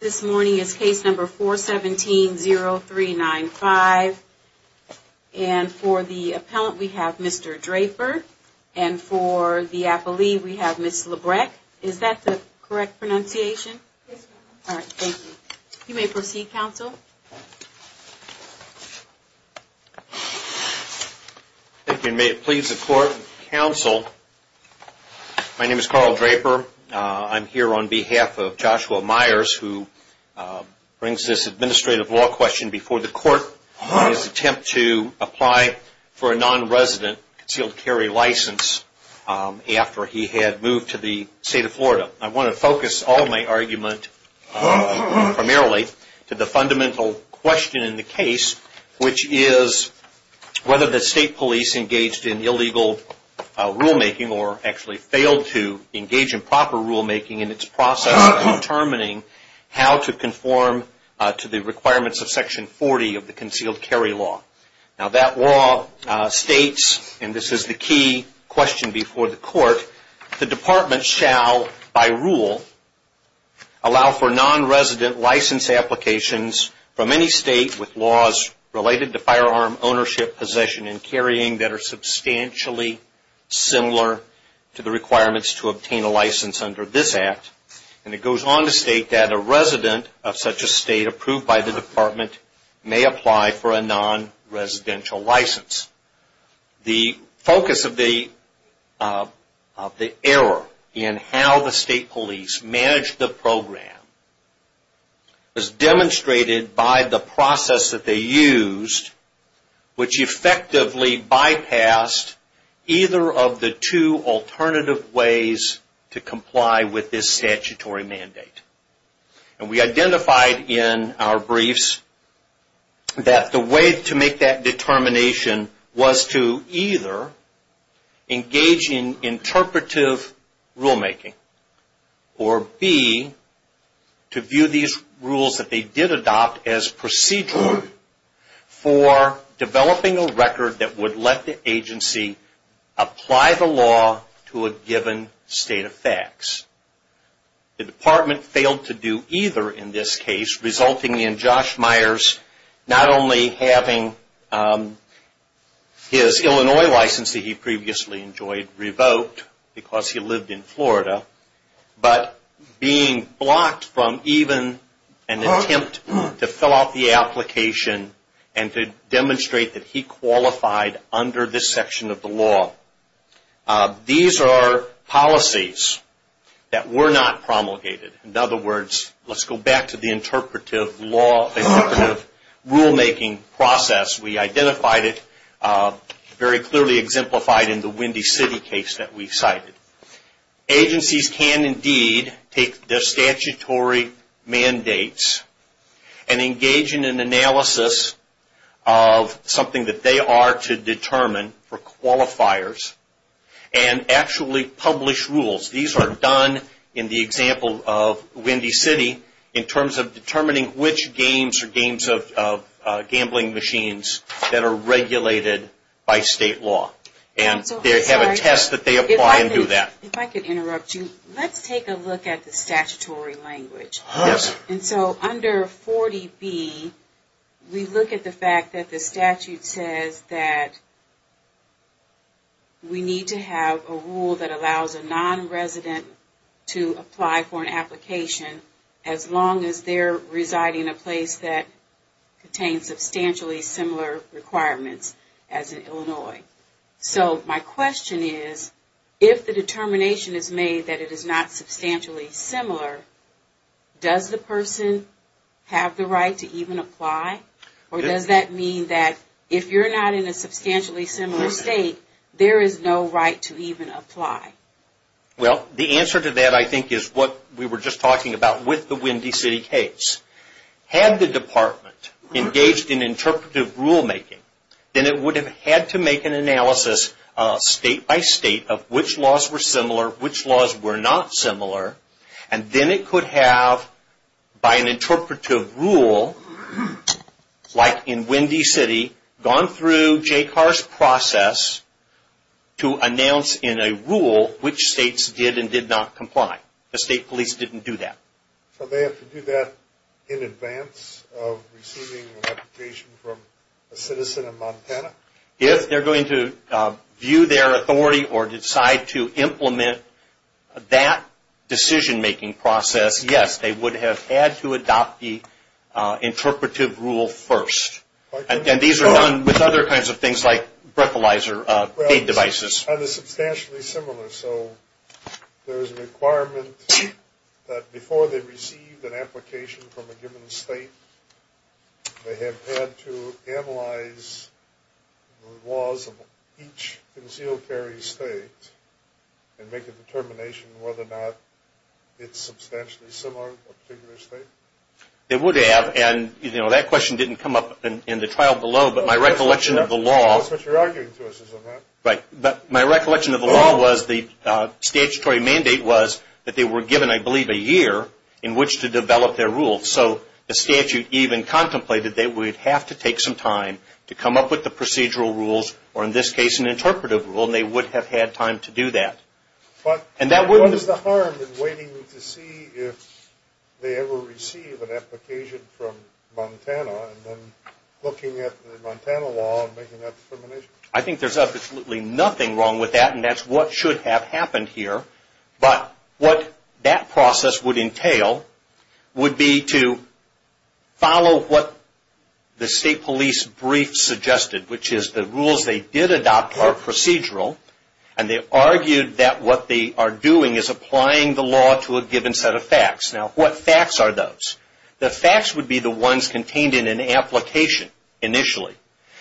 This morning is case number 417-0395, and for the appellant we have Mr. Draper, and for the appellee we have Ms. Lebrecq. Is that the correct pronunciation? Yes, ma'am. Alright, thank you. You may proceed, counsel. Thank you, and may it please the court and counsel, my name is Carl Draper. I'm here on behalf of Joshua Myers, who brings this administrative law question before the court in his attempt to apply for a non-resident concealed carry license after he had moved to the state of Florida. I want to focus all my argument primarily to the fundamental question in the case, which is whether the state police engaged in illegal rulemaking or actually failed to engage in proper rulemaking in its process of determining how to conform to the requirements of section 40 of the concealed carry law. Now that law states, and this is the key question before the court, the department shall, by rule, allow for non-resident license applications from any state with laws related to firearm ownership possession and carrying that are substantially similar to the requirements to obtain a license under this act. And it goes on to state that a resident of such a state approved by the department may apply for a non-residential license. The focus of the error in how the state police managed the program was demonstrated by the process that they used, which effectively bypassed either of the two alternative ways to comply with this statutory mandate. And we identified in our briefs that the way to make that determination was to either engage in interpretive rulemaking or B, to view these rules that they did adopt as procedural for developing a record that would let the agency apply the law to a given state of facts. The department failed to do either in this case, resulting in Josh Myers not only having his Illinois license that he previously enjoyed revoked because he lived in Florida, but being blocked from even an attempt to fill out the application and to demonstrate that he qualified under this section of the law. These are policies that were not promulgated. In other words, let's go back to the interpretive rulemaking process. We identified it very clearly exemplified in the Windy City case that we cited. Agencies can indeed take their statutory mandates and engage in an analysis of something that they are to determine for qualifiers and actually publish rules. These are done in the example of Windy City in terms of determining which games or games of gambling machines that are regulated by state law. And they have a test that they apply and do that. If I could interrupt you, let's take a look at the statutory language. And so under 40B, we look at the fact that the statute says that we need to have a rule that allows a nonresident to apply for an application as long as they're residing in a place that contains substantially similar requirements as in Illinois. So my question is, if the determination is made that it is not substantially similar, does the person have the right to even apply? Or does that mean that if you're not in a substantially similar state, there is no right to even apply? Well, the answer to that, I think, is what we were just talking about with the Windy City case. Had the department engaged in interpretive rulemaking, then it would have had to make an analysis state by state of which laws were similar, which laws were not similar. And then it could have, by an interpretive rule, like in Windy City, gone through Jay Carr's process to announce in a rule which states did and did not comply. The state police didn't do that. So they have to do that in advance of receiving an application from a citizen of Montana? If they're going to view their authority or decide to implement that decision-making process, yes, they would have had to adopt the interpretive rule first. And these are done with other kinds of things like breathalyzer feed devices. Are they substantially similar? So there is a requirement that before they received an application from a given state, they have had to analyze the laws of each concealed carry state and make a determination whether or not it's substantially similar to a particular state? They would have, and that question didn't come up in the trial below, but my recollection of the law... That's what you're arguing to us, isn't it? Right. But my recollection of the law was the statutory mandate was that they were given, I believe, a year in which to develop their rules. So the statute even contemplated they would have to take some time to come up with the procedural rules, or in this case an interpretive rule, and they would have had time to do that. But what is the harm in waiting to see if they ever receive an application from Montana and then looking at the Montana law and making that determination? I think there's absolutely nothing wrong with that, and that's what should have happened here. But what that process would entail would be to follow what the state police brief suggested, which is the rules they did adopt are procedural, and they argued that what they are doing is applying the law to a given set of facts. Now, what facts are those? The facts would be the ones contained in an application initially,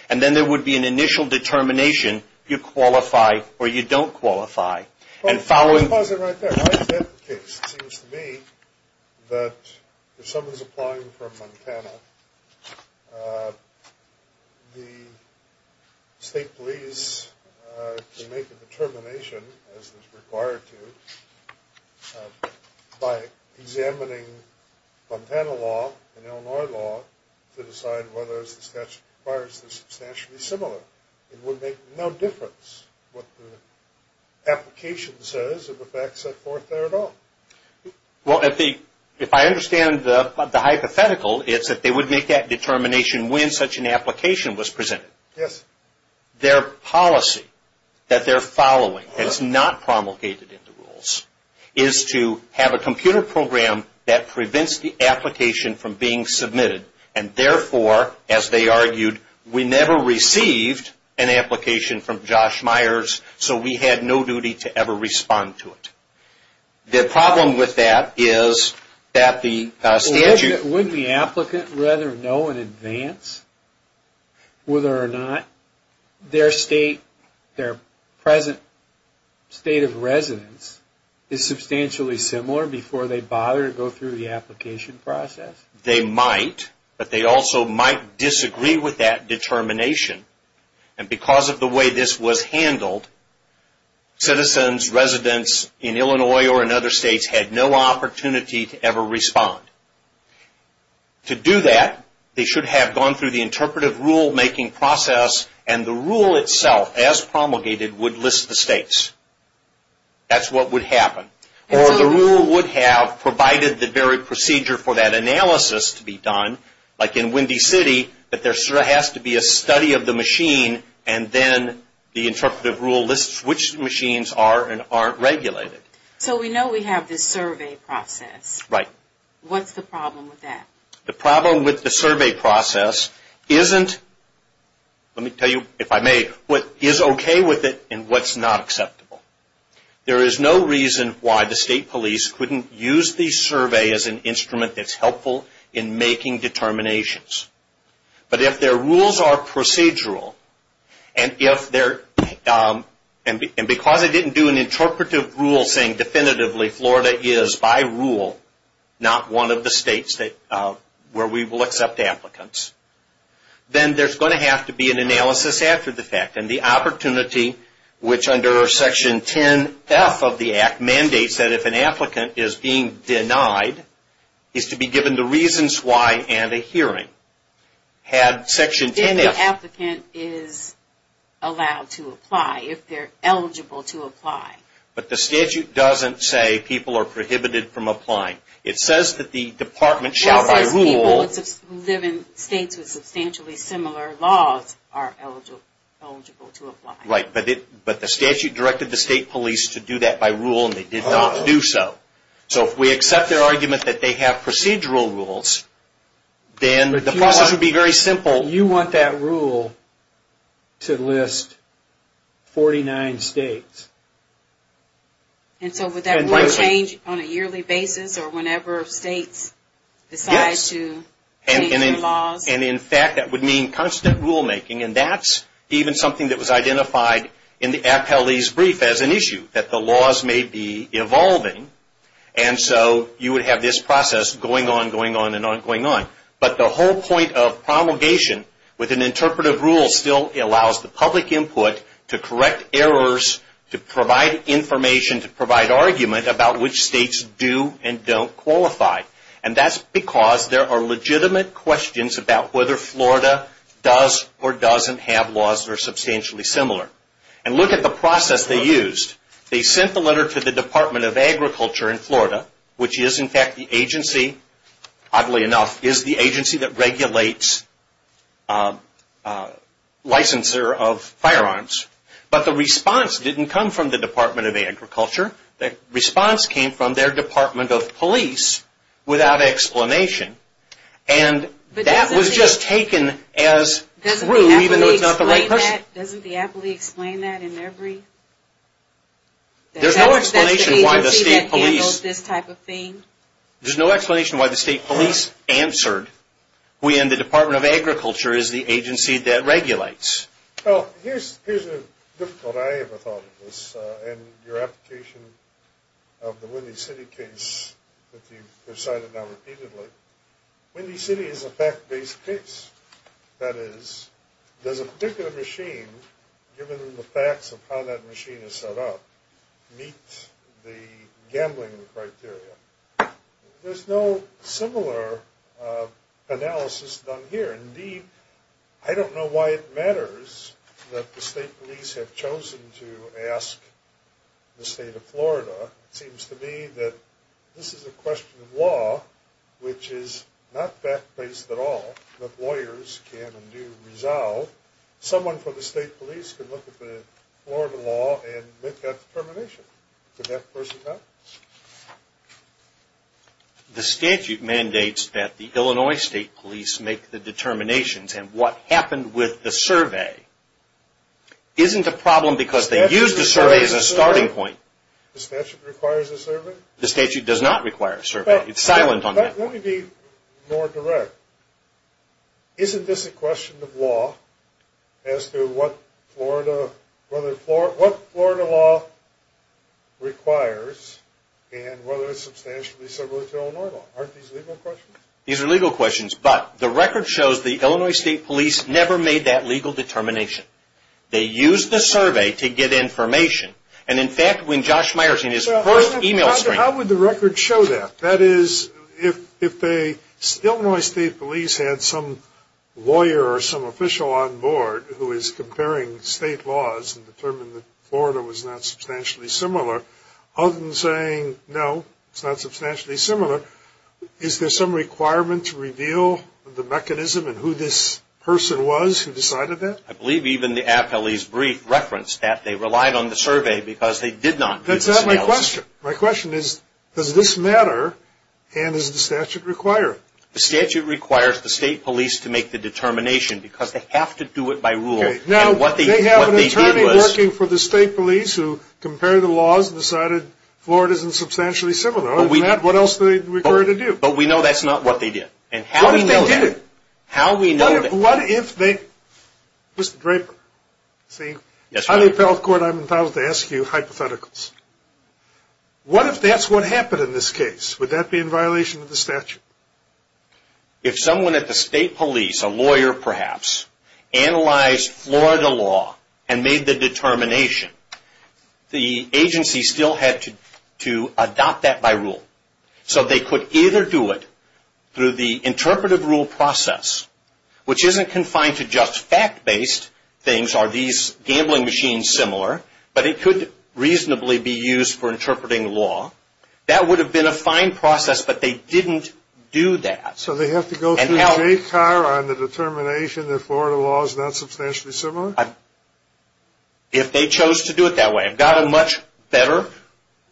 and then there would be an initial determination if you qualify or you don't qualify, and following... Well, if I understand the hypothetical, it's that they would make that determination when such an application was presented. Yes. Their policy that they're following that's not promulgated in the rules is to have a computer program that prevents the application from being submitted, and therefore, as they argued, we never received an application from Josh Myers, so we had no duty to ever respond to it. The problem with that is that the statute... Their state, their present state of residence is substantially similar before they bother to go through the application process? Yes, they might, but they also might disagree with that determination, and because of the way this was handled, citizens, residents in Illinois or in other states had no opportunity to ever respond. To do that, they should have gone through the interpretive rulemaking process, and the rule itself, as promulgated, would list the states. That's what would happen. Or the rule would have provided the very procedure for that analysis to be done, like in Windy City, that there has to be a study of the machine, and then the interpretive rule lists which machines are and aren't regulated. So we know we have this survey process. Right. What's the problem with that? The problem with the survey process isn't... Let me tell you, if I may, what is okay with it and what's not acceptable. There is no reason why the state police couldn't use the survey as an instrument that's helpful in making determinations. But if their rules are procedural, and because they didn't do an interpretive rule saying, definitively, Florida is, by rule, not one of the states where we will accept applicants, then there's going to have to be an analysis after the fact. And the opportunity, which under Section 10F of the Act mandates that if an applicant is being denied, is to be given the reasons why and a hearing. Had Section 10F... If the applicant is allowed to apply, if they're eligible to apply. But the statute doesn't say people are prohibited from applying. It says that the department shall, by rule... Right, but the statute directed the state police to do that by rule and they did not do so. So if we accept their argument that they have procedural rules, then the process would be very simple. You want that rule to list 49 states. And so would that rule change on a yearly basis or whenever states decide to... Yes. And in fact, that would mean constant rulemaking. And that's even something that was identified in the appellee's brief as an issue, that the laws may be evolving. And so you would have this process going on, going on, and on, going on. But the whole point of promulgation with an interpretive rule still allows the public input to correct errors, to provide information, to provide argument about which states do and don't qualify. And that's because there are legitimate questions about whether Florida does or doesn't have laws that are substantially similar. And look at the process they used. They sent the letter to the Department of Agriculture in Florida, which is in fact the agency, oddly enough, is the agency that regulates licensure of firearms. But the response didn't come from the Department of Agriculture. The response came from their Department of Police without explanation. And that was just taken as true, even though it's not the right question. Doesn't the appellee explain that in their brief? There's no explanation why the state police... That's the agency that handles this type of thing? There's no explanation why the state police answered. We in the Department of Agriculture is the agency that regulates. Well, here's a difficult... I haven't thought of this in your application of the Windy City case that you've cited now repeatedly. Windy City is a fact-based case. That is, does a particular machine, given the facts of how that machine is set up, meet the gambling criteria? There's no similar analysis done here. Indeed, I don't know why it matters that the state police have chosen to ask the state of Florida. It seems to me that this is a question of law, which is not fact-based at all that lawyers can and do resolve. Someone from the state police can look at the Florida law and make that determination. Could that person help? The statute mandates that the Illinois state police make the determinations. And what happened with the survey isn't a problem because they used the survey as a starting point. The statute requires a survey? The statute does not require a survey. It's silent on that point. Let me be more direct. Isn't this a question of law as to what Florida law requires and whether it's substantially similar to Illinois law? Aren't these legal questions? These are legal questions, but the record shows the Illinois state police never made that legal determination. They used the survey to get information. And, in fact, when Josh Meyers in his first e-mail stream... How would the record show that? That is, if the Illinois state police had some lawyer or some official on board who is comparing state laws and determined that Florida was not substantially similar, other than saying, no, it's not substantially similar, is there some requirement to reveal the mechanism and who this person was who decided that? I believe even the appellee's brief referenced that they relied on the survey because they did not... That's not my question. My question is, does this matter and does the statute require it? The statute requires the state police to make the determination because they have to do it by rule. Now, they have an attorney working for the state police who compared the laws and decided Florida isn't substantially similar. If not, what else do they require to do? But we know that's not what they did. What if they did it? How do we know that? What if they... Mr. Draper. On the appellate court, I'm entitled to ask you hypotheticals. What if that's what happened in this case? Would that be in violation of the statute? If someone at the state police, a lawyer perhaps, analyzed Florida law and made the determination, the agency still had to adopt that by rule. So they could either do it through the interpretive rule process, which isn't confined to just fact-based things. Are these gambling machines similar? But it could reasonably be used for interpreting law. That would have been a fine process, but they didn't do that. So they have to go through JCAR on the determination that Florida law is not substantially similar? If they chose to do it that way. I've got a much better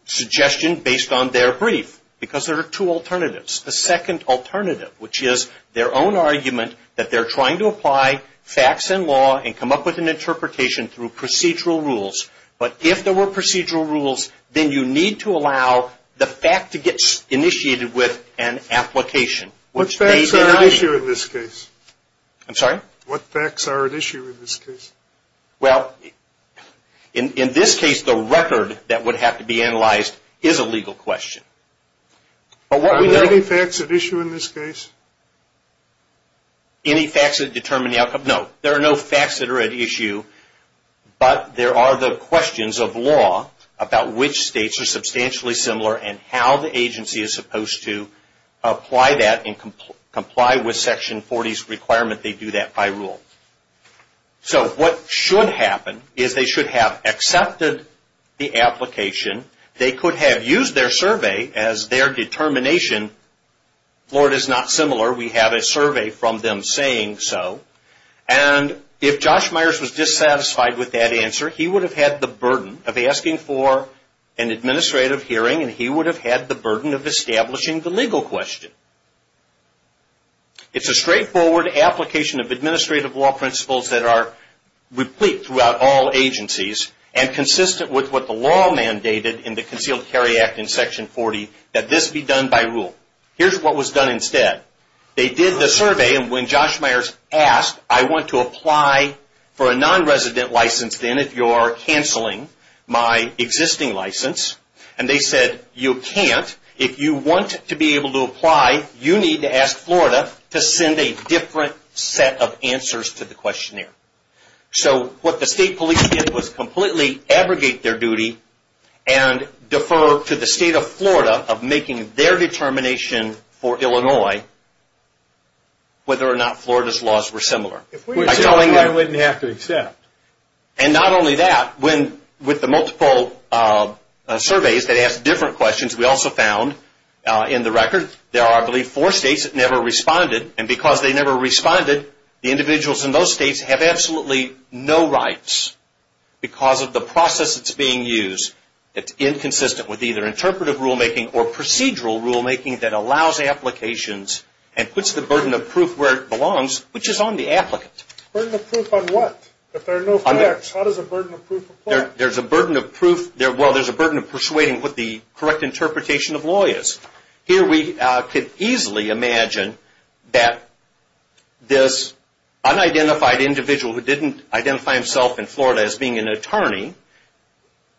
suggestion based on their brief because there are two alternatives. The second alternative, which is their own argument that they're trying to apply facts and law and come up with an interpretation through procedural rules. But if there were procedural rules, then you need to allow the fact to get initiated with an application. What facts are at issue in this case? I'm sorry? What facts are at issue in this case? Well, in this case, the record that would have to be analyzed is a legal question. Are there any facts at issue in this case? Any facts that determine the outcome? No, there are no facts that are at issue. But there are the questions of law about which states are substantially similar and how the agency is supposed to apply that and comply with Section 40's requirement they do that by rule. So what should happen is they should have accepted the application. They could have used their survey as their determination. Florida is not similar. We have a survey from them saying so. And if Josh Myers was dissatisfied with that answer, he would have had the burden of asking for an administrative hearing and he would have had the burden of establishing the legal question. It's a straightforward application of administrative law principles that are replete throughout all agencies and consistent with what the law mandated in the Concealed Carry Act in Section 40 that this be done by rule. Here's what was done instead. They did the survey, and when Josh Myers asked, I want to apply for a non-resident license then if you're canceling my existing license, and they said you can't. If you want to be able to apply, you need to ask Florida to send a different set of answers to the questionnaire. So what the state police did was completely abrogate their duty and defer to the state of Florida of making their determination for Illinois, whether or not Florida's laws were similar. I'm telling you. I wouldn't have to accept. And not only that, with the multiple surveys that asked different questions, we also found in the record there are, I believe, four states that never responded, and because they never responded, the individuals in those states have absolutely no rights because of the process that's being used. It's inconsistent with either interpretive rulemaking or procedural rulemaking that allows applications and puts the burden of proof where it belongs, which is on the applicant. Burden of proof on what? If there are no facts, how does a burden of proof apply? There's a burden of proof. Well, there's a burden of persuading what the correct interpretation of law is. Here we could easily imagine that this unidentified individual who didn't identify himself in Florida as being an attorney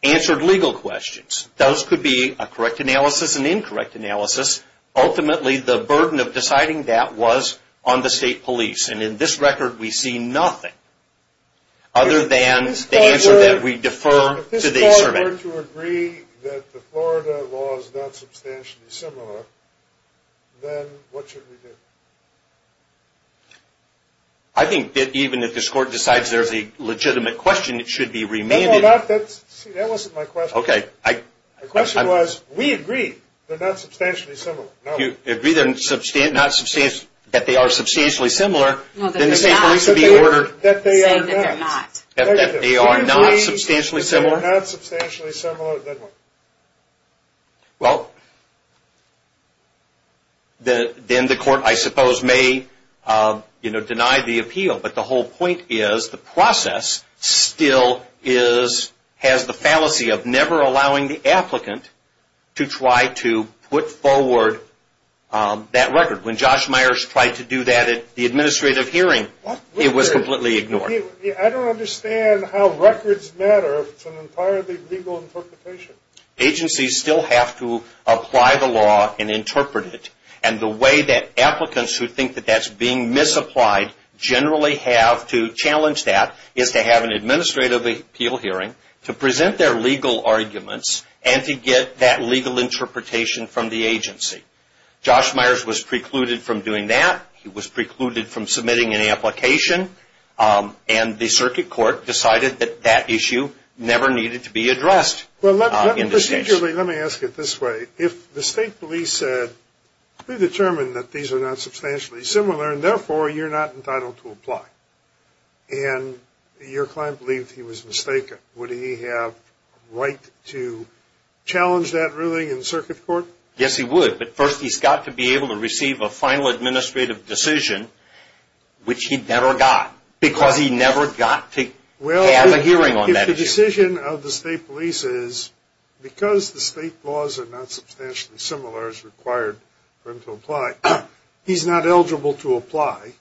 answered legal questions. Those could be a correct analysis, an incorrect analysis. Ultimately, the burden of deciding that was on the state police, and in this record we see nothing other than the answer that we defer to the survey. If we're to agree that the Florida law is not substantially similar, then what should we do? I think that even if this court decides there's a legitimate question, it should be remanded. No, no, that wasn't my question. Okay. My question was, we agree they're not substantially similar. You agree that they are substantially similar, then the state police would be ordered. Saying that they're not. That they are not substantially similar. They're not substantially similar, then what? Well, then the court, I suppose, may deny the appeal, but the whole point is the process still has the fallacy of never allowing the applicant to try to put forward that record. When Josh Myers tried to do that at the administrative hearing, it was completely ignored. I don't understand how records matter to an entirely legal interpretation. Agencies still have to apply the law and interpret it, and the way that applicants who think that that's being misapplied generally have to challenge that, is to have an administrative appeal hearing to present their legal arguments and to get that legal interpretation from the agency. Josh Myers was precluded from doing that. He was precluded from submitting an application, and the circuit court decided that that issue never needed to be addressed. Let me ask it this way. If the state police said, we determined that these are not substantially similar, and therefore you're not entitled to apply, and your client believed he was mistaken, would he have a right to challenge that ruling in circuit court? Yes, he would. But first he's got to be able to receive a final administrative decision, which he never got, because he never got to have a hearing on that issue. Well, if the decision of the state police is, because the state laws are not substantially similar as required for him to apply, he's not eligible to apply,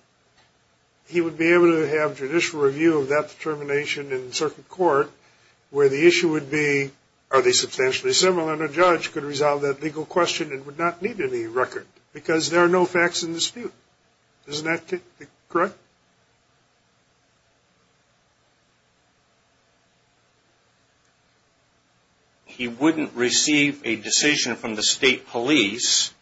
he would be able to have judicial review of that determination in circuit court, where the issue would be, are they substantially similar, and a judge could resolve that legal question and would not need any record, because there are no facts in dispute. Isn't that correct? He wouldn't receive a decision from the state police,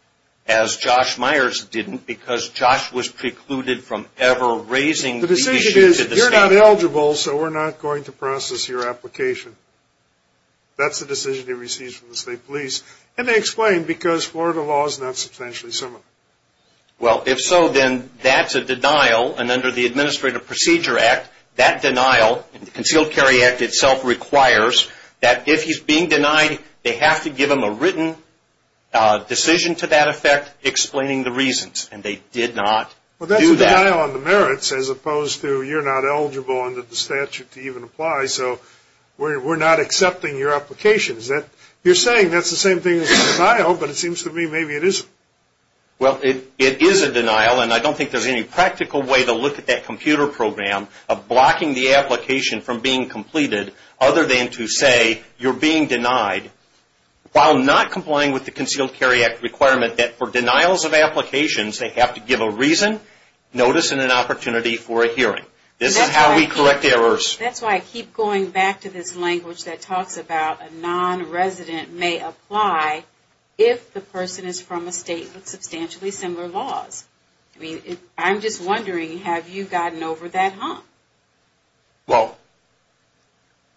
as Josh Myers didn't, because Josh was precluded from ever raising the issue to the state police. The decision is, you're not eligible, so we're not going to process your application. That's the decision he receives from the state police. And they explain, because Florida law is not substantially similar. Well, if so, then that's a denial, and under the Administrative Procedure Act, that denial, the Concealed Carry Act itself requires that if he's being denied, they have to give him a written decision to that effect explaining the reasons, and they did not do that. Well, that's a denial on the merits, as opposed to you're not eligible under the statute to even apply, so we're not accepting your application. You're saying that's the same thing as a denial, but it seems to me maybe it isn't. Well, it is a denial, and I don't think there's any practical way to look at that computer program of blocking the application from being completed other than to say you're being denied, while not complying with the Concealed Carry Act requirement that for denials of applications, they have to give a reason, notice, and an opportunity for a hearing. This is how we correct errors. That's why I keep going back to this language that talks about a nonresident may apply if the person is from a state with substantially similar laws. I mean, I'm just wondering, have you gotten over that hump? Well,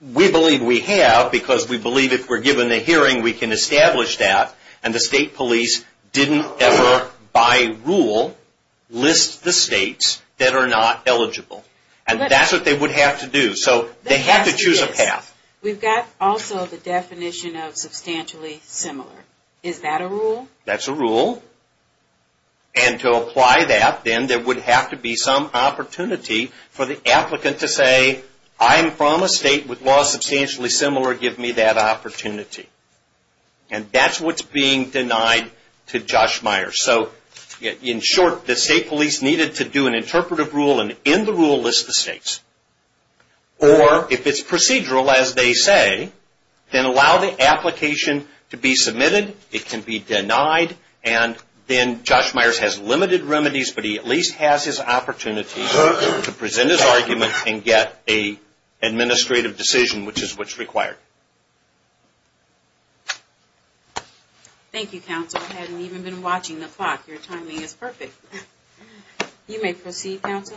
we believe we have because we believe if we're given a hearing, we can establish that, and the state police didn't ever, by rule, list the states that are not eligible, and that's what they would have to do. So they have to choose a path. We've got also the definition of substantially similar. Is that a rule? That's a rule. And to apply that, then, there would have to be some opportunity for the applicant to say, I'm from a state with laws substantially similar. Give me that opportunity. And that's what's being denied to Josh Meyers. So in short, the state police needed to do an interpretive rule and in the rule list the states. Or if it's procedural, as they say, then allow the application to be submitted. It can be denied, and then Josh Meyers has limited remedies, but he at least has his opportunity to present his argument and get an administrative decision, which is what's required. Thank you, Counsel. I haven't even been watching the clock. Your timing is perfect. You may proceed, Counsel.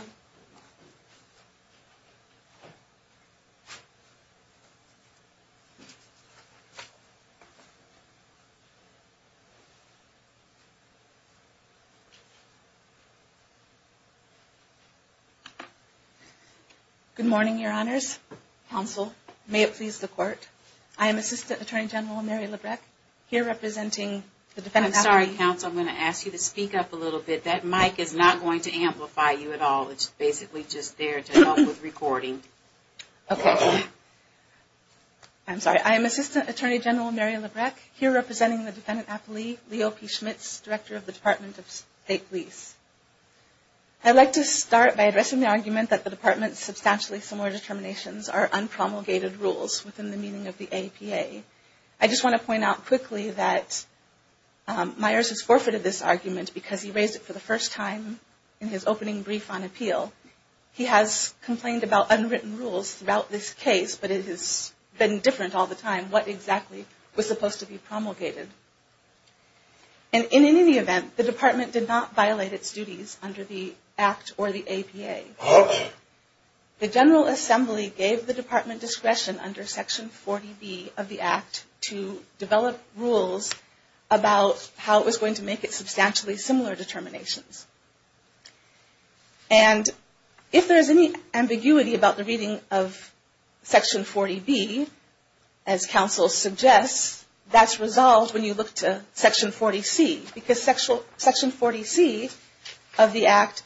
Good morning, Your Honors. Counsel, may it please the Court. I am Assistant Attorney General Mary Labreck, here representing the defendant. I'm sorry, Counsel. I'm going to ask you to speak up a little bit. That mic is not going to amplify you at all. It's basically just there to help with recording. Okay. I'm sorry. I am Assistant Attorney General Mary Labreck, here representing the defendant appellee, Leo P. Schmitz, Director of the Department of State Police. I'd like to start by addressing the argument that the Department's substantially similar determinations are unpromulgated rules within the meaning of the APA. I just want to point out quickly that Meyers has forfeited this argument because he raised it for the first time in his opening brief on appeal. He has complained about unwritten rules throughout this case, but it has been different all the time, what exactly was supposed to be promulgated. And in any event, the Department did not violate its duties under the Act or the APA. The General Assembly gave the Department discretion under Section 40B of the Act to develop rules about how it was going to make its substantially similar determinations. And if there is any ambiguity about the reading of Section 40B, as Counsel suggests, that's resolved when you look to Section 40C, because Section 40C of the Act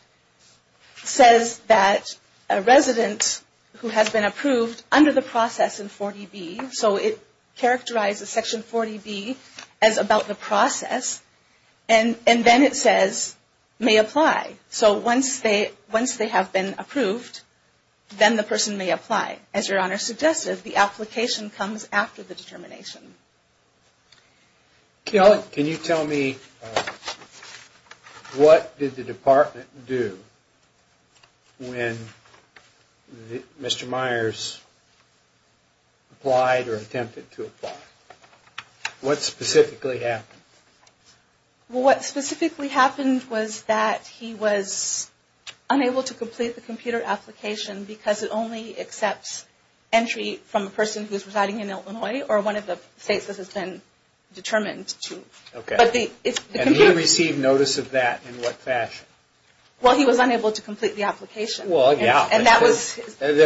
says that a resident who has been approved under the process in 40B, so it characterizes Section 40B as about the process, and then it says may apply. So once they have been approved, then the person may apply. As Your Honor suggested, the application comes after the determination. Can you tell me what did the Department do when Mr. Myers applied or attempted to apply? What specifically happened? Well, what specifically happened was that he was unable to complete the computer application because it only accepts entry from a person who is residing in Illinois or one of the states that has been determined to. And he received notice of that in what fashion? Well, he was unable to complete the application. There are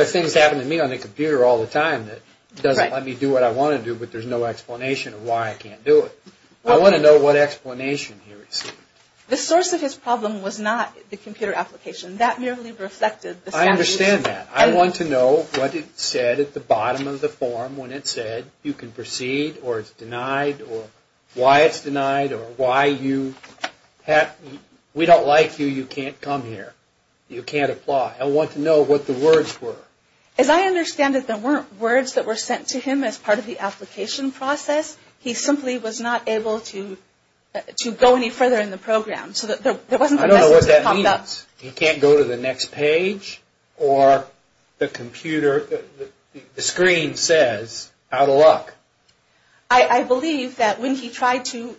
things that happen to me on the computer all the time that doesn't let me do what I want to do, but there's no explanation of why I can't do it. I want to know what explanation he received. The source of his problem was not the computer application. That merely reflected the statute. I understand that. I want to know what it said at the bottom of the form when it said you can proceed or it's denied or why it's denied or why you have, we don't like you, you can't come here. You can't apply. I want to know what the words were. As I understand it, there weren't words that were sent to him as part of the application process. He simply was not able to go any further in the program. I don't know what that means. He can't go to the next page or the computer, the screen says out of luck. I believe that when he tried to,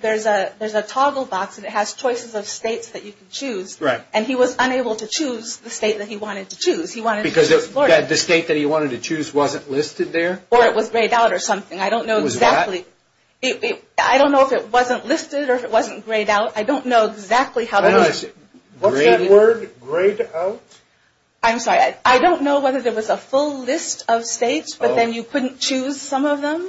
there's a toggle box and it has choices of states that you can choose. Right. And he was unable to choose the state that he wanted to choose. Because the state that he wanted to choose wasn't listed there? Or it was grayed out or something. I don't know exactly. It was what? I don't know if it wasn't listed or if it wasn't grayed out. I don't know exactly how that is. What's that word? Grayed out? I'm sorry. I don't know whether there was a full list of states but then you couldn't choose some of them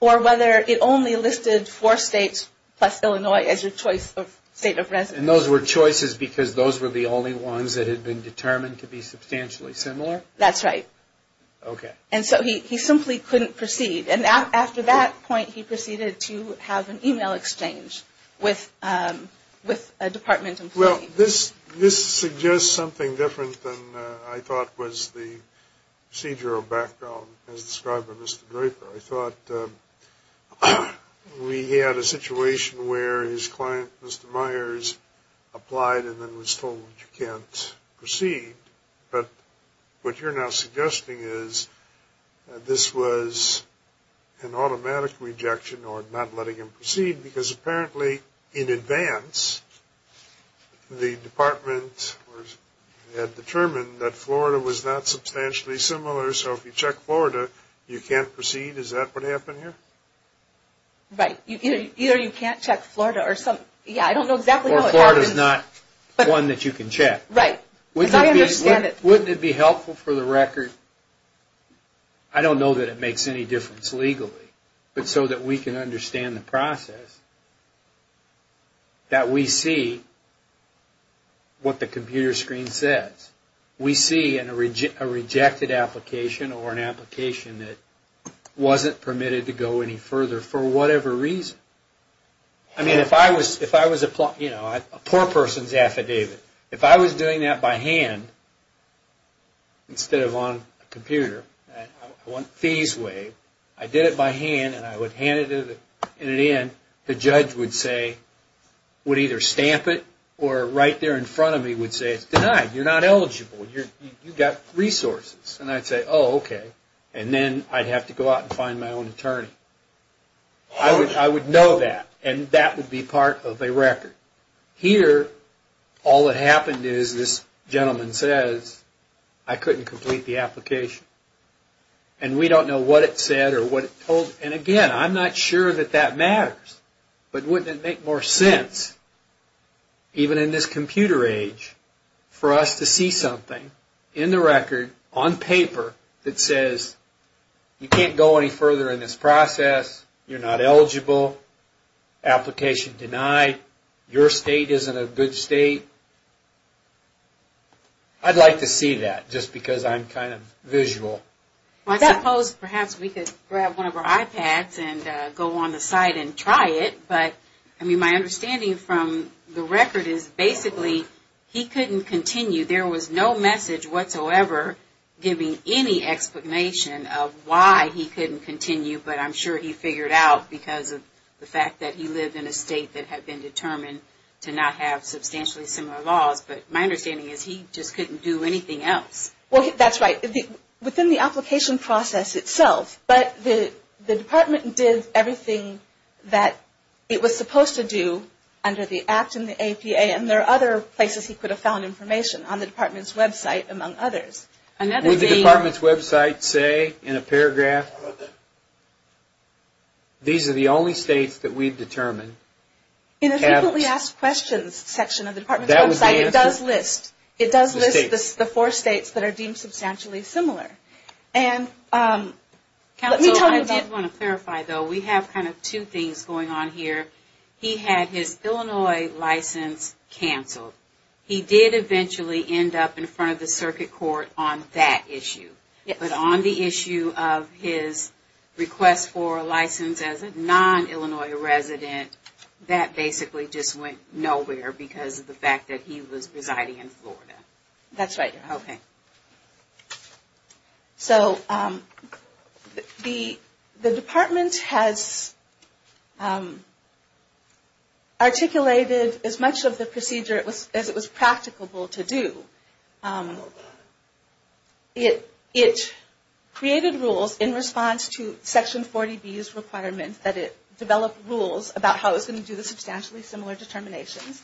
or whether it only listed four states plus Illinois as your choice of state of residence. And those were choices because those were the only ones that had been determined to be substantially similar? That's right. Okay. And so he simply couldn't proceed. And after that point he proceeded to have an e-mail exchange with a department employee. Well, this suggests something different than I thought was the procedural background as described by Mr. Draper. I thought we had a situation where his client, Mr. Myers, applied and then was told you can't proceed. But what you're now suggesting is this was an automatic rejection or not letting him proceed because apparently in advance the department had determined that Florida was not substantially similar. So if you check Florida you can't proceed. Is that what happened here? Right. Either you can't check Florida or something. Yeah, I don't know exactly how it happened. Or Florida's not one that you can check. Right. Because I understand it. Wouldn't it be helpful for the record, I don't know that it makes any difference legally, but so that we can understand the process that we see what the computer screen says. We see a rejected application or an application that wasn't permitted to go any further for whatever reason. I mean, if I was a poor person's affidavit, if I was doing that by hand instead of on a computer, I want fees waived, I did it by hand and I would hand it in, the judge would say, would either stamp it or right there in front of me would say it's denied. You're not eligible. You've got resources. And I'd say, oh, okay. And then I'd have to go out and find my own attorney. I would know that. And that would be part of a record. Here, all that happened is this gentleman says, I couldn't complete the application. And we don't know what it said or what it told. And again, I'm not sure that that matters. But wouldn't it make more sense, even in this computer age, for us to see something in the record on paper that says you can't go any further in this process, you're not eligible, application denied, your state isn't a good state? I'd like to see that just because I'm kind of visual. I suppose perhaps we could grab one of our iPads and go on the site and try it. But, I mean, my understanding from the record is basically he couldn't continue. There was no message whatsoever giving any explanation of why he couldn't continue. But I'm sure he figured out because of the fact that he lived in a state that had been determined to not have substantially similar laws. But my understanding is he just couldn't do anything else. Well, that's right. Within the application process itself. But the department did everything that it was supposed to do under the act in the APA. And there are other places he could have found information, on the department's website, among others. Would the department's website say in a paragraph, these are the only states that we've determined? In the frequently asked questions section of the department's website, it does list. It does list the four states that are deemed substantially similar. And let me tell you about. Counsel, I do want to clarify, though. We have kind of two things going on here. He had his Illinois license canceled. He did eventually end up in front of the circuit court on that issue. But on the issue of his request for a license as a non-Illinois resident, that basically just went nowhere because of the fact that he was residing in Florida. That's right. Okay. So, the department has articulated as much of the procedure as it was practicable to do. It created rules in response to Section 40B's requirement that it develop rules about how it was going to do substantially similar determinations.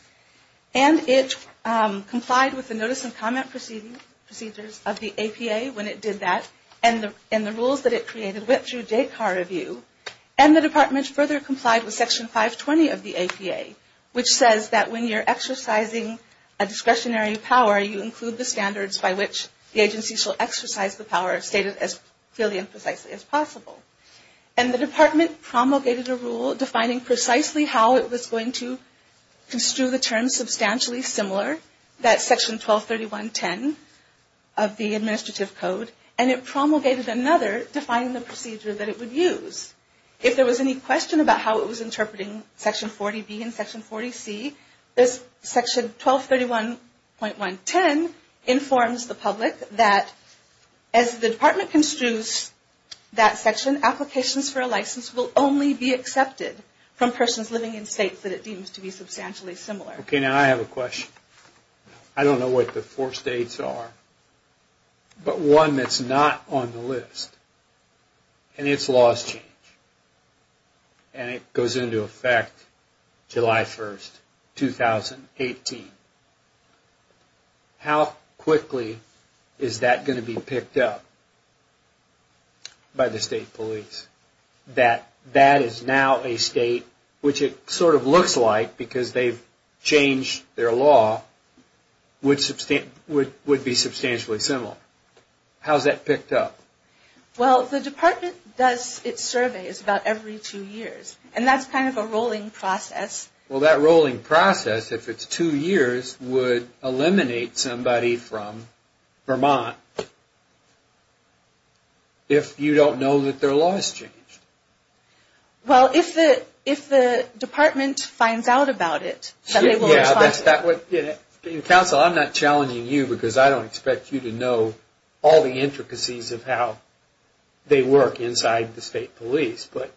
And it complied with the notice and comment procedures of the APA when it did that. And the rules that it created went through JCAR review. And the department further complied with Section 520 of the APA, which says that when you're exercising a discretionary power, you include the standards by which the agency shall exercise the power stated as clearly and precisely as possible. And the department promulgated a rule defining precisely how it was going to construe the terms substantially similar, that's Section 1231.10 of the Administrative Code. And it promulgated another defining the procedure that it would use. If there was any question about how it was interpreting Section 40B and Section 40C, this Section 1231.110 informs the public that as the department construes that section, applications for a license will only be accepted from persons living in states that it deems to be substantially similar. Okay, now I have a question. I don't know what the four states are, but one that's not on the list, and its laws change. And it goes into effect July 1st, 2018. How quickly is that going to be picked up by the state police? That that is now a state, which it sort of looks like because they've changed their law, would be substantially similar. How is that picked up? Well, the department does its surveys about every two years. And that's kind of a rolling process. Well, that rolling process, if it's two years, would eliminate somebody from Vermont if you don't know that their law has changed. Well, if the department finds out about it, then they will respond. Counsel, I'm not challenging you because I don't expect you to know all the intricacies of how they work inside the state police. But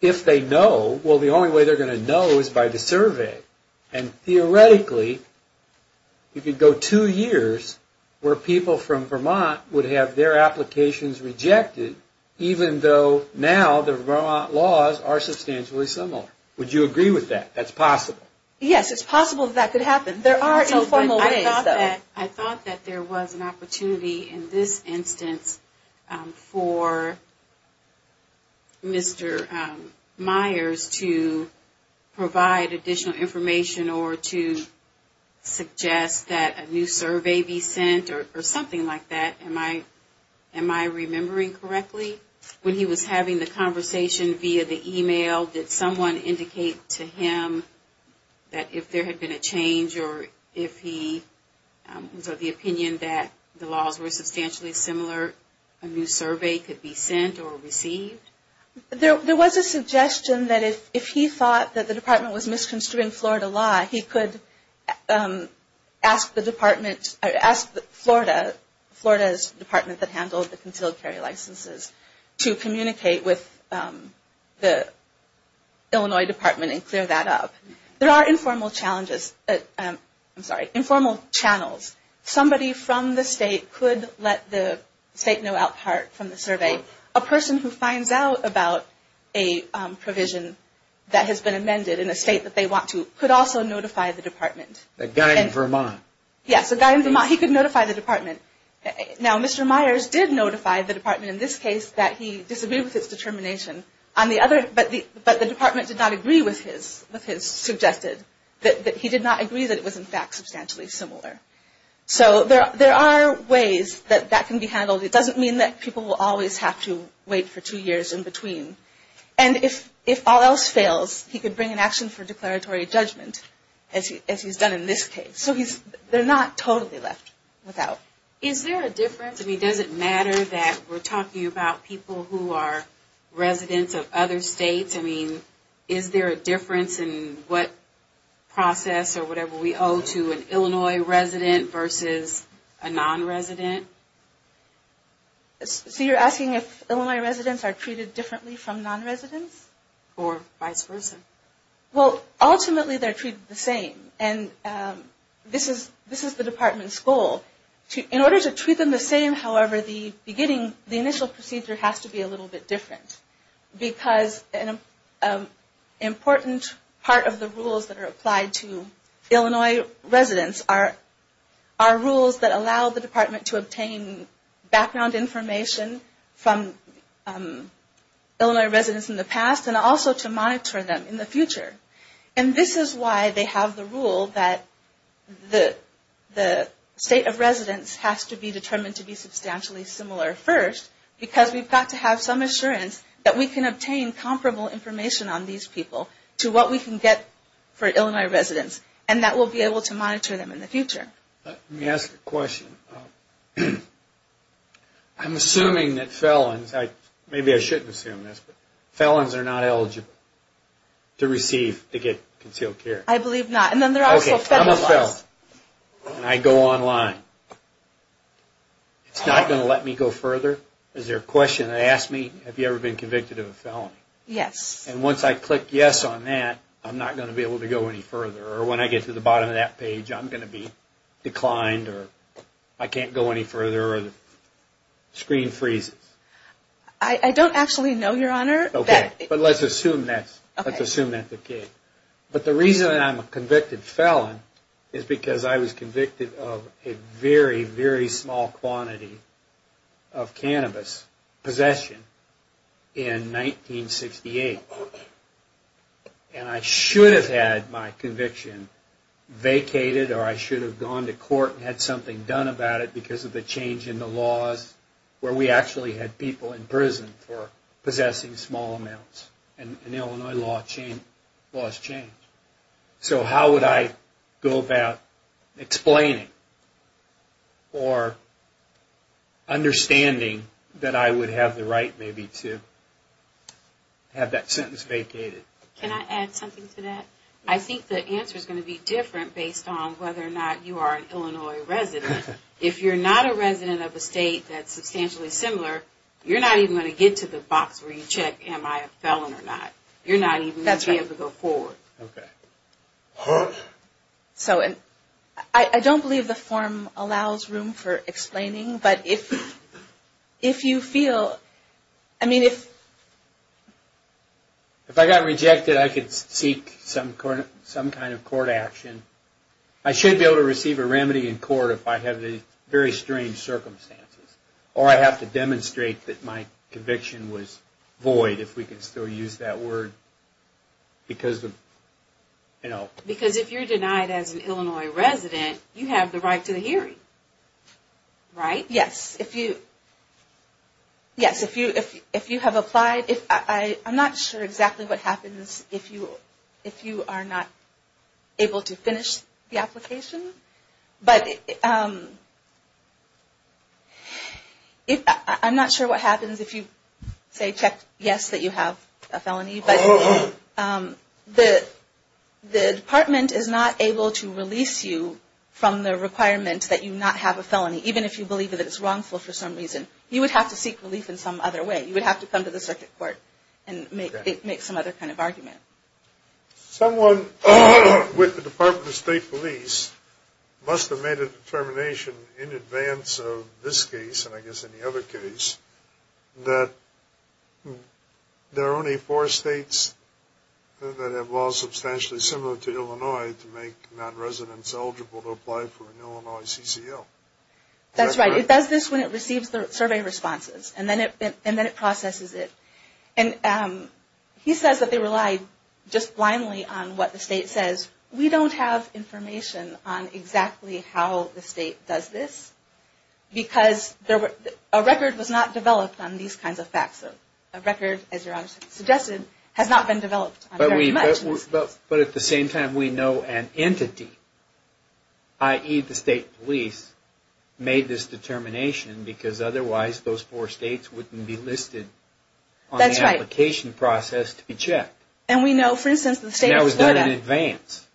if they know, well, the only way they're going to know is by the survey. And theoretically, you could go two years where people from Vermont would have their applications rejected, even though now the Vermont laws are substantially similar. Would you agree with that? That's possible. Yes, it's possible that could happen. There are informal ways, though. I thought that there was an opportunity in this instance for Mr. Myers to provide additional information or to suggest that a new survey be sent or something like that. Am I remembering correctly? When he was having the conversation via the email, did someone indicate to him that if there had been a change or if he was of the opinion that the laws were substantially similar, a new survey could be sent or received? There was a suggestion that if he thought that the department was misconstruing Florida law, he could ask the department, ask Florida, Florida's department that handled the concealed carry licenses, to communicate with the Illinois department and clear that up. There are informal challenges, I'm sorry, informal channels. Somebody from the state could let the state know out part from the survey. A person who finds out about a provision that has been amended in a state that they want to could also notify the department. The guy in Vermont. Yes, the guy in Vermont. He could notify the department. Now, Mr. Myers did notify the department in this case that he disagreed with his determination, but the department did not agree with his suggestion, that he did not agree that it was in fact substantially similar. So there are ways that that can be handled. It doesn't mean that people will always have to wait for two years in between. And if all else fails, he could bring an action for declaratory judgment, as he's done in this case. So they're not totally left without. Is there a difference? I mean, does it matter that we're talking about people who are residents of other states? I mean, is there a difference in what process or whatever we owe to an Illinois resident versus a non-resident? So you're asking if Illinois residents are treated differently from non-residents? Or vice versa. Well, ultimately they're treated the same. And this is the department's goal. In order to treat them the same, however, the initial procedure has to be a little bit different. Because an important part of the rules that are applied to Illinois residents are rules that allow the department to obtain background information from Illinois residents in the past, and also to monitor them in the future. And this is why they have the rule that the state of residence has to be determined to be substantially similar first, because we've got to have some assurance that we can obtain comparable information on these people to what we can get for Illinois residents, and that we'll be able to monitor them in the future. Let me ask a question. I'm assuming that felons, maybe I shouldn't assume this, but felons are not eligible to receive, to get, concealed care. I believe not. Okay, I'm a felon, and I go online. It's not going to let me go further? Is there a question? They ask me, have you ever been convicted of a felony? Yes. And once I click yes on that, I'm not going to be able to go any further. Or when I get to the bottom of that page, I'm going to be declined, or I can't go any further, or the screen freezes. I don't actually know, Your Honor. Okay, but let's assume that's the case. But the reason I'm a convicted felon is because I was convicted of a very, very small quantity of cannabis possession in 1968. And I should have had my conviction vacated, or I should have gone to court and had something done about it because of the change in the laws where we actually had people in prison for possessing small amounts. And Illinois laws change. So how would I go about explaining or understanding that I would have the right maybe to have that sentence vacated? Can I add something to that? I think the answer is going to be different based on whether or not you are an Illinois resident. If you're not a resident of a state that's substantially similar, you're not even going to get to the box where you check am I a felon or not. You're not even going to be able to go forward. Okay. So I don't believe the form allows room for explaining, but if you feel, I mean if... If I got rejected, I could seek some kind of court action. I should be able to receive a remedy in court if I have these very strange circumstances. Or I have to demonstrate that my conviction was void, if we can still use that word, because of, you know... Because if you're denied as an Illinois resident, you have the right to the hearing. Right? Yes. If you have applied, I'm not sure exactly what happens if you are not able to finish the application. But I'm not sure what happens if you say check yes that you have a felony. But the department is not able to release you from the requirement that you not have a felony, even if you believe that it's wrongful for some reason. You would have to seek relief in some other way. You would have to come to the circuit court and make some other kind of argument. Someone with the Department of State Police must have made a determination in advance of this case, and I guess any other case, that there are only four states that have laws substantially similar to Illinois to make non-residents eligible to apply for an Illinois CCL. That's right. It does this when it receives the survey responses. And then it processes it. And he says that they relied just blindly on what the state says. We don't have information on exactly how the state does this, because a record was not developed on these kinds of facts. A record, as your Honor suggested, has not been developed on very much. But at the same time, we know an entity, i.e. the state police, made this determination, because otherwise those four states wouldn't be listed on the application process to be checked. And we know, for instance, the state of Florida. And that was done in advance.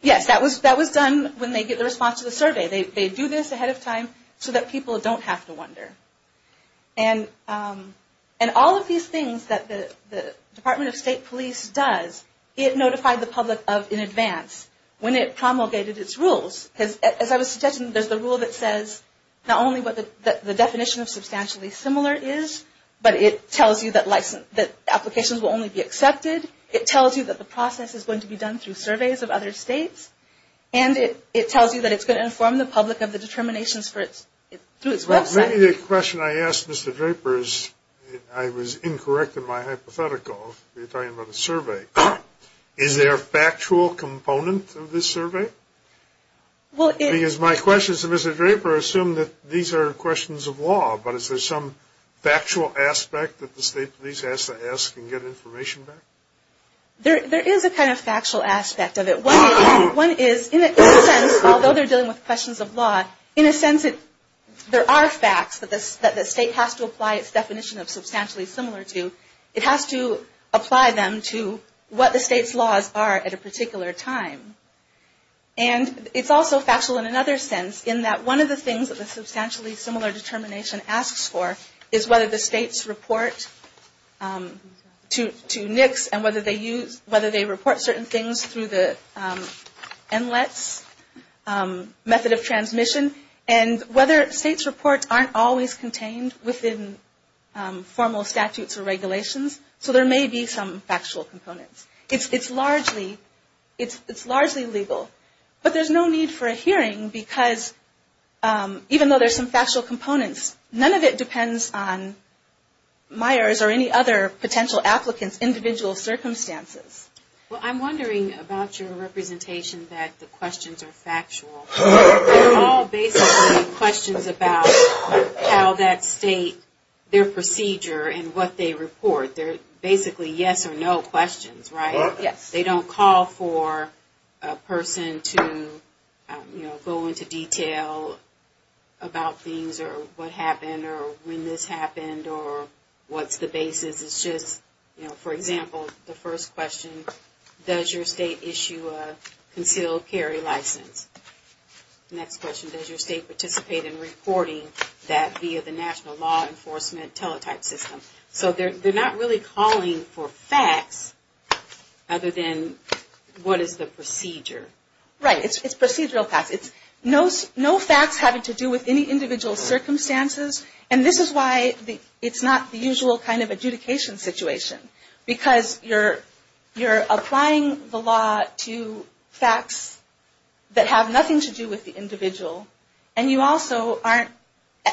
Yes, that was done when they get the response to the survey. They do this ahead of time so that people don't have to wonder. And all of these things that the Department of State Police does, it notified the public of in advance, when it promulgated its rules. As I was suggesting, there's the rule that says not only what the definition of substantially similar is, but it tells you that applications will only be accepted. It tells you that the process is going to be done through surveys of other states. And it tells you that it's going to inform the public of the determinations through its website. Maybe the question I asked Mr. Draper is, I was incorrect in my hypothetical. You're talking about a survey. Is there a factual component of this survey? Because my question is to Mr. Draper, assume that these are questions of law, but is there some factual aspect that the state police has to ask and get information back? There is a kind of factual aspect of it. One is, in a sense, although they're dealing with questions of law, in a sense, there are facts that the state has to apply its definition of substantially similar to. It has to apply them to what the state's laws are at a particular time. And it's also factual in another sense, in that one of the things that the substantially similar determination asks for is whether the states report to NICS and whether they report certain things through the NLETS method of transmission, and whether states' reports aren't always contained within formal statutes or regulations. So there may be some factual components. It's largely legal. But there's no need for a hearing because even though there's some factual components, none of it depends on Meyers or any other potential applicants' individual circumstances. Well, I'm wondering about your representation that the questions are factual. They're all basically questions about how that state, their procedure and what they report. They're basically yes or no questions, right? Yes. They don't call for a person to go into detail about things or what happened or when this happened or what's the basis. For example, the first question, does your state issue a concealed carry license? Next question, does your state participate in reporting that via the national law enforcement teletype system? So they're not really calling for facts other than what is the procedure. Right. It's procedural facts. It's no facts having to do with any individual circumstances. And this is why it's not the usual kind of adjudication situation. Because you're applying the law to facts that have nothing to do with the individual. And you also aren't,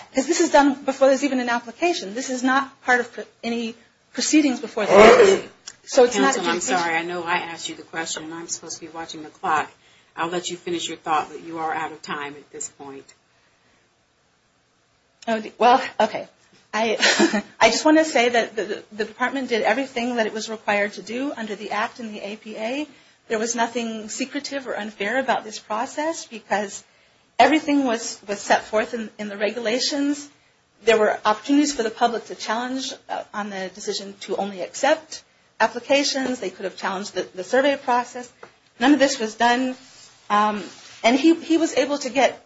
because this is done before there's even an application. This is not part of any proceedings before the case. So it's not adjudication. Counsel, I'm sorry. I know I asked you the question and I'm supposed to be watching the clock. I'll let you finish your thought, but you are out of time at this point. Well, okay. I just want to say that the department did everything that it was required to do under the Act and the APA. There was nothing secretive or unfair about this process because everything was set forth in the regulations. There were opportunities for the public to challenge on the decision to only accept applications. They could have challenged the survey process. None of this was done. And he was able to get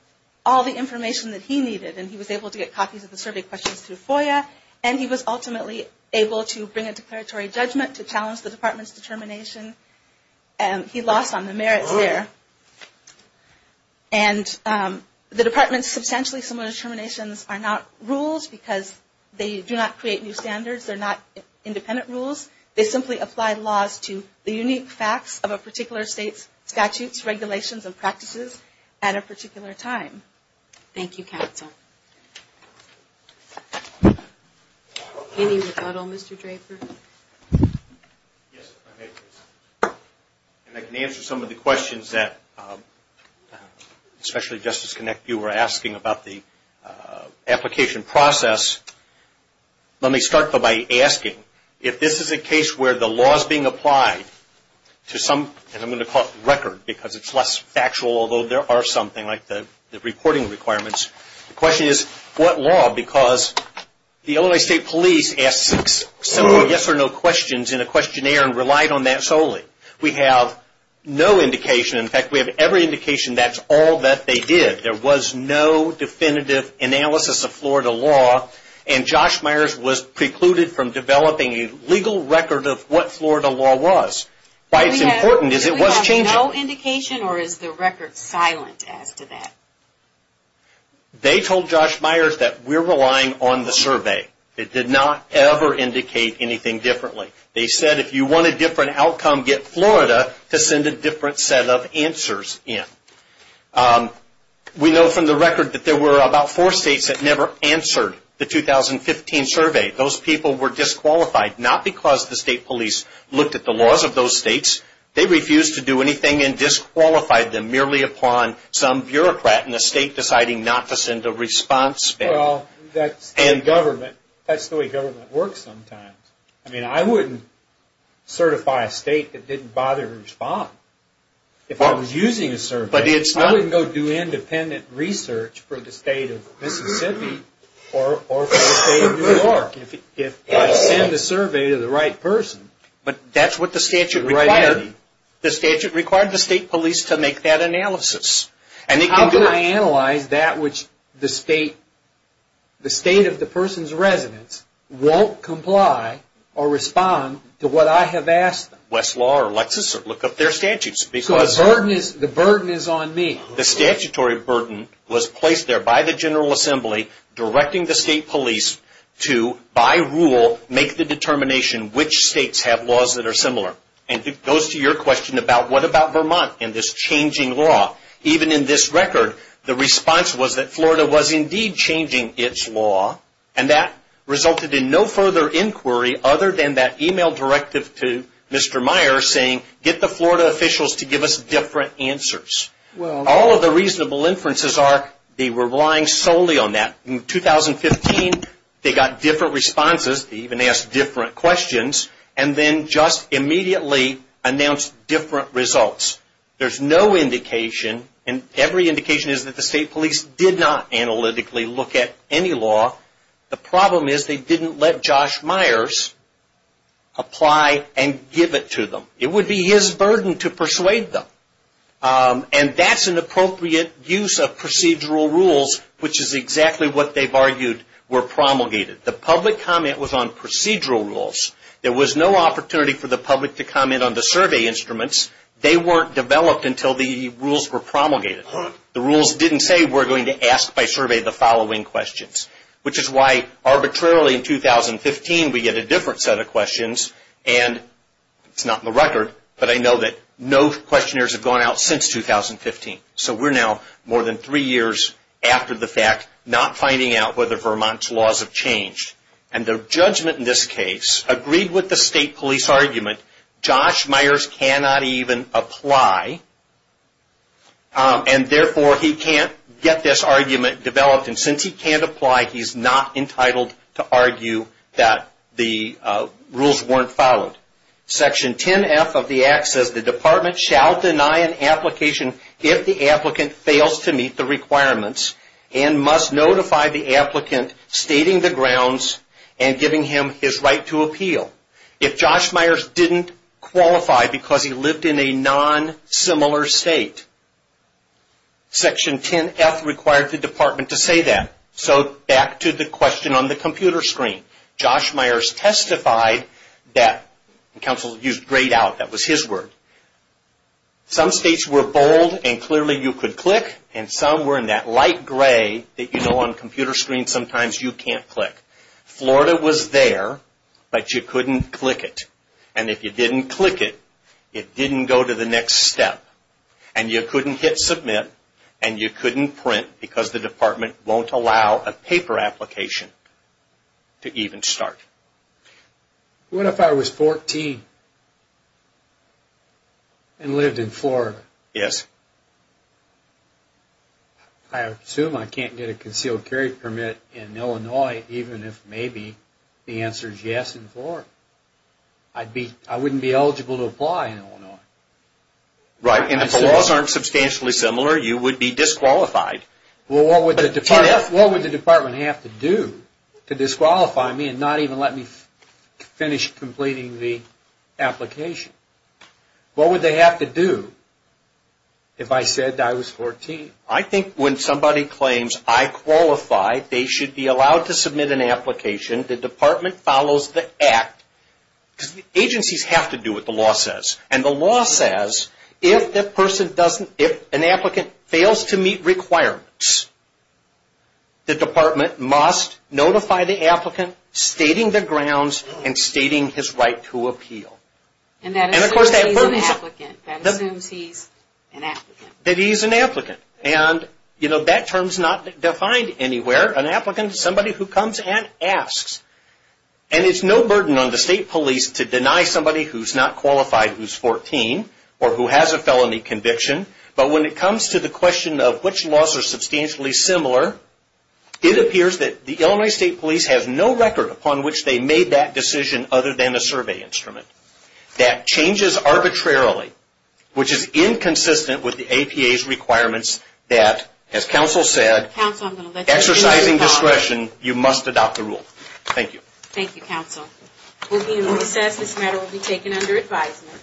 all the information that he needed. And he was able to get copies of the survey questions through FOIA. And he was ultimately able to bring a declaratory judgment to challenge the department's determination. He lost on the merits there. And the department's substantially similar determinations are not rules because they do not create new standards. They're not independent rules. They simply apply laws to the unique facts of a particular state's statutes, regulations, and practices at a particular time. Thank you, counsel. Any rebuttal, Mr. Draper? Yes, if I may, please. And I can answer some of the questions that, especially Justice Connick, you were asking about the application process. Let me start by asking if this is a case where the law is being applied to some, and I'm going to call it record, because it's less factual, although there are something like the reporting requirements. The question is, what law? Because the Illinois State Police asked six simple yes or no questions in a questionnaire and relied on that solely. We have no indication. In fact, we have every indication that's all that they did. There was no definitive analysis of Florida law, and Josh Myers was precluded from developing a legal record of what Florida law was. Why it's important is it was changing. Do we have no indication, or is the record silent as to that? They told Josh Myers that we're relying on the survey. It did not ever indicate anything differently. They said if you want a different outcome, get Florida to send a different set of answers in. We know from the record that there were about four states that never answered the 2015 survey. Those people were disqualified, not because the state police looked at the laws of those states. They refused to do anything and disqualified them merely upon some bureaucrat in the state deciding not to send a response back. Well, that's the government. That's the way government works sometimes. I mean, I wouldn't certify a state that didn't bother to respond if I was using a survey. I wouldn't go do independent research for the state of Mississippi or for the state of New York if I send a survey to the right person. But that's what the statute required. The statute required the state police to make that analysis. How can I analyze that which the state of the person's residence won't comply or respond to what I have asked them? Westlaw or Lexis or look up their statutes. The burden is on me. The statutory burden was placed there by the General Assembly directing the state police to, by rule, make the determination which states have laws that are similar. And it goes to your question about what about Vermont and this changing law. Even in this record, the response was that Florida was indeed changing its law. And that resulted in no further inquiry other than that e-mail directive to Mr. Meyer saying get the Florida officials to give us different answers. All of the reasonable inferences are they were relying solely on that. In 2015, they got different responses. They even asked different questions. And then just immediately announced different results. There's no indication and every indication is that the state police did not analytically look at any law. The problem is they didn't let Josh Myers apply and give it to them. It would be his burden to persuade them. And that's an appropriate use of procedural rules which is exactly what they've argued were promulgated. The public comment was on procedural rules. There was no opportunity for the public to comment on the survey instruments. They weren't developed until the rules were promulgated. The rules didn't say we're going to ask by survey the following questions. Which is why arbitrarily in 2015 we get a different set of questions. And it's not in the record, but I know that no questionnaires have gone out since 2015. So we're now more than three years after the fact not finding out whether Vermont's laws have changed. And the judgment in this case agreed with the state police argument. Josh Myers cannot even apply and therefore he can't get this argument developed. And since he can't apply, he's not entitled to argue that the rules weren't followed. Section 10F of the Act says the department shall deny an application if the applicant fails to meet the requirements and must notify the applicant stating the grounds and giving him his right to appeal. If Josh Myers didn't qualify because he lived in a non-similar state, Section 10F required the department to say that. So back to the question on the computer screen. Josh Myers testified that, and counsel used grayed out, that was his word. Some states were bold and clearly you could click and some were in that light gray that you know on computer screen sometimes you can't click. Florida was there, but you couldn't click it. And if you didn't click it, it didn't go to the next step. And you couldn't hit submit and you couldn't print because the department won't allow a paper application to even start. What if I was 14 and lived in Florida? Yes. I assume I can't get a concealed carry permit in Illinois even if maybe the answer is yes in Florida. I wouldn't be eligible to apply in Illinois. Right, and if the laws aren't substantially similar, you would be disqualified. Well, what would the department have to do to disqualify me and not even let me finish completing the application? What would they have to do if I said I was 14? I think when somebody claims I qualify, they should be allowed to submit an application. The department follows the act because agencies have to do what the law says. And the law says if an applicant fails to meet requirements, the department must notify the applicant stating the grounds and stating his right to appeal. And that assumes he's an applicant. That he's an applicant. And that term's not defined anywhere. An applicant is somebody who comes and asks. And it's no burden on the state police to deny somebody who's not qualified who's 14 or who has a felony conviction. But when it comes to the question of which laws are substantially similar, it appears that the Illinois State Police has no record upon which they made that decision other than a survey instrument. That changes arbitrarily, which is inconsistent with the APA's requirements that, as counsel said, exercising discretion, you must adopt the rule. Thank you. Thank you, counsel. We'll be in recess. This matter will be taken under advisement.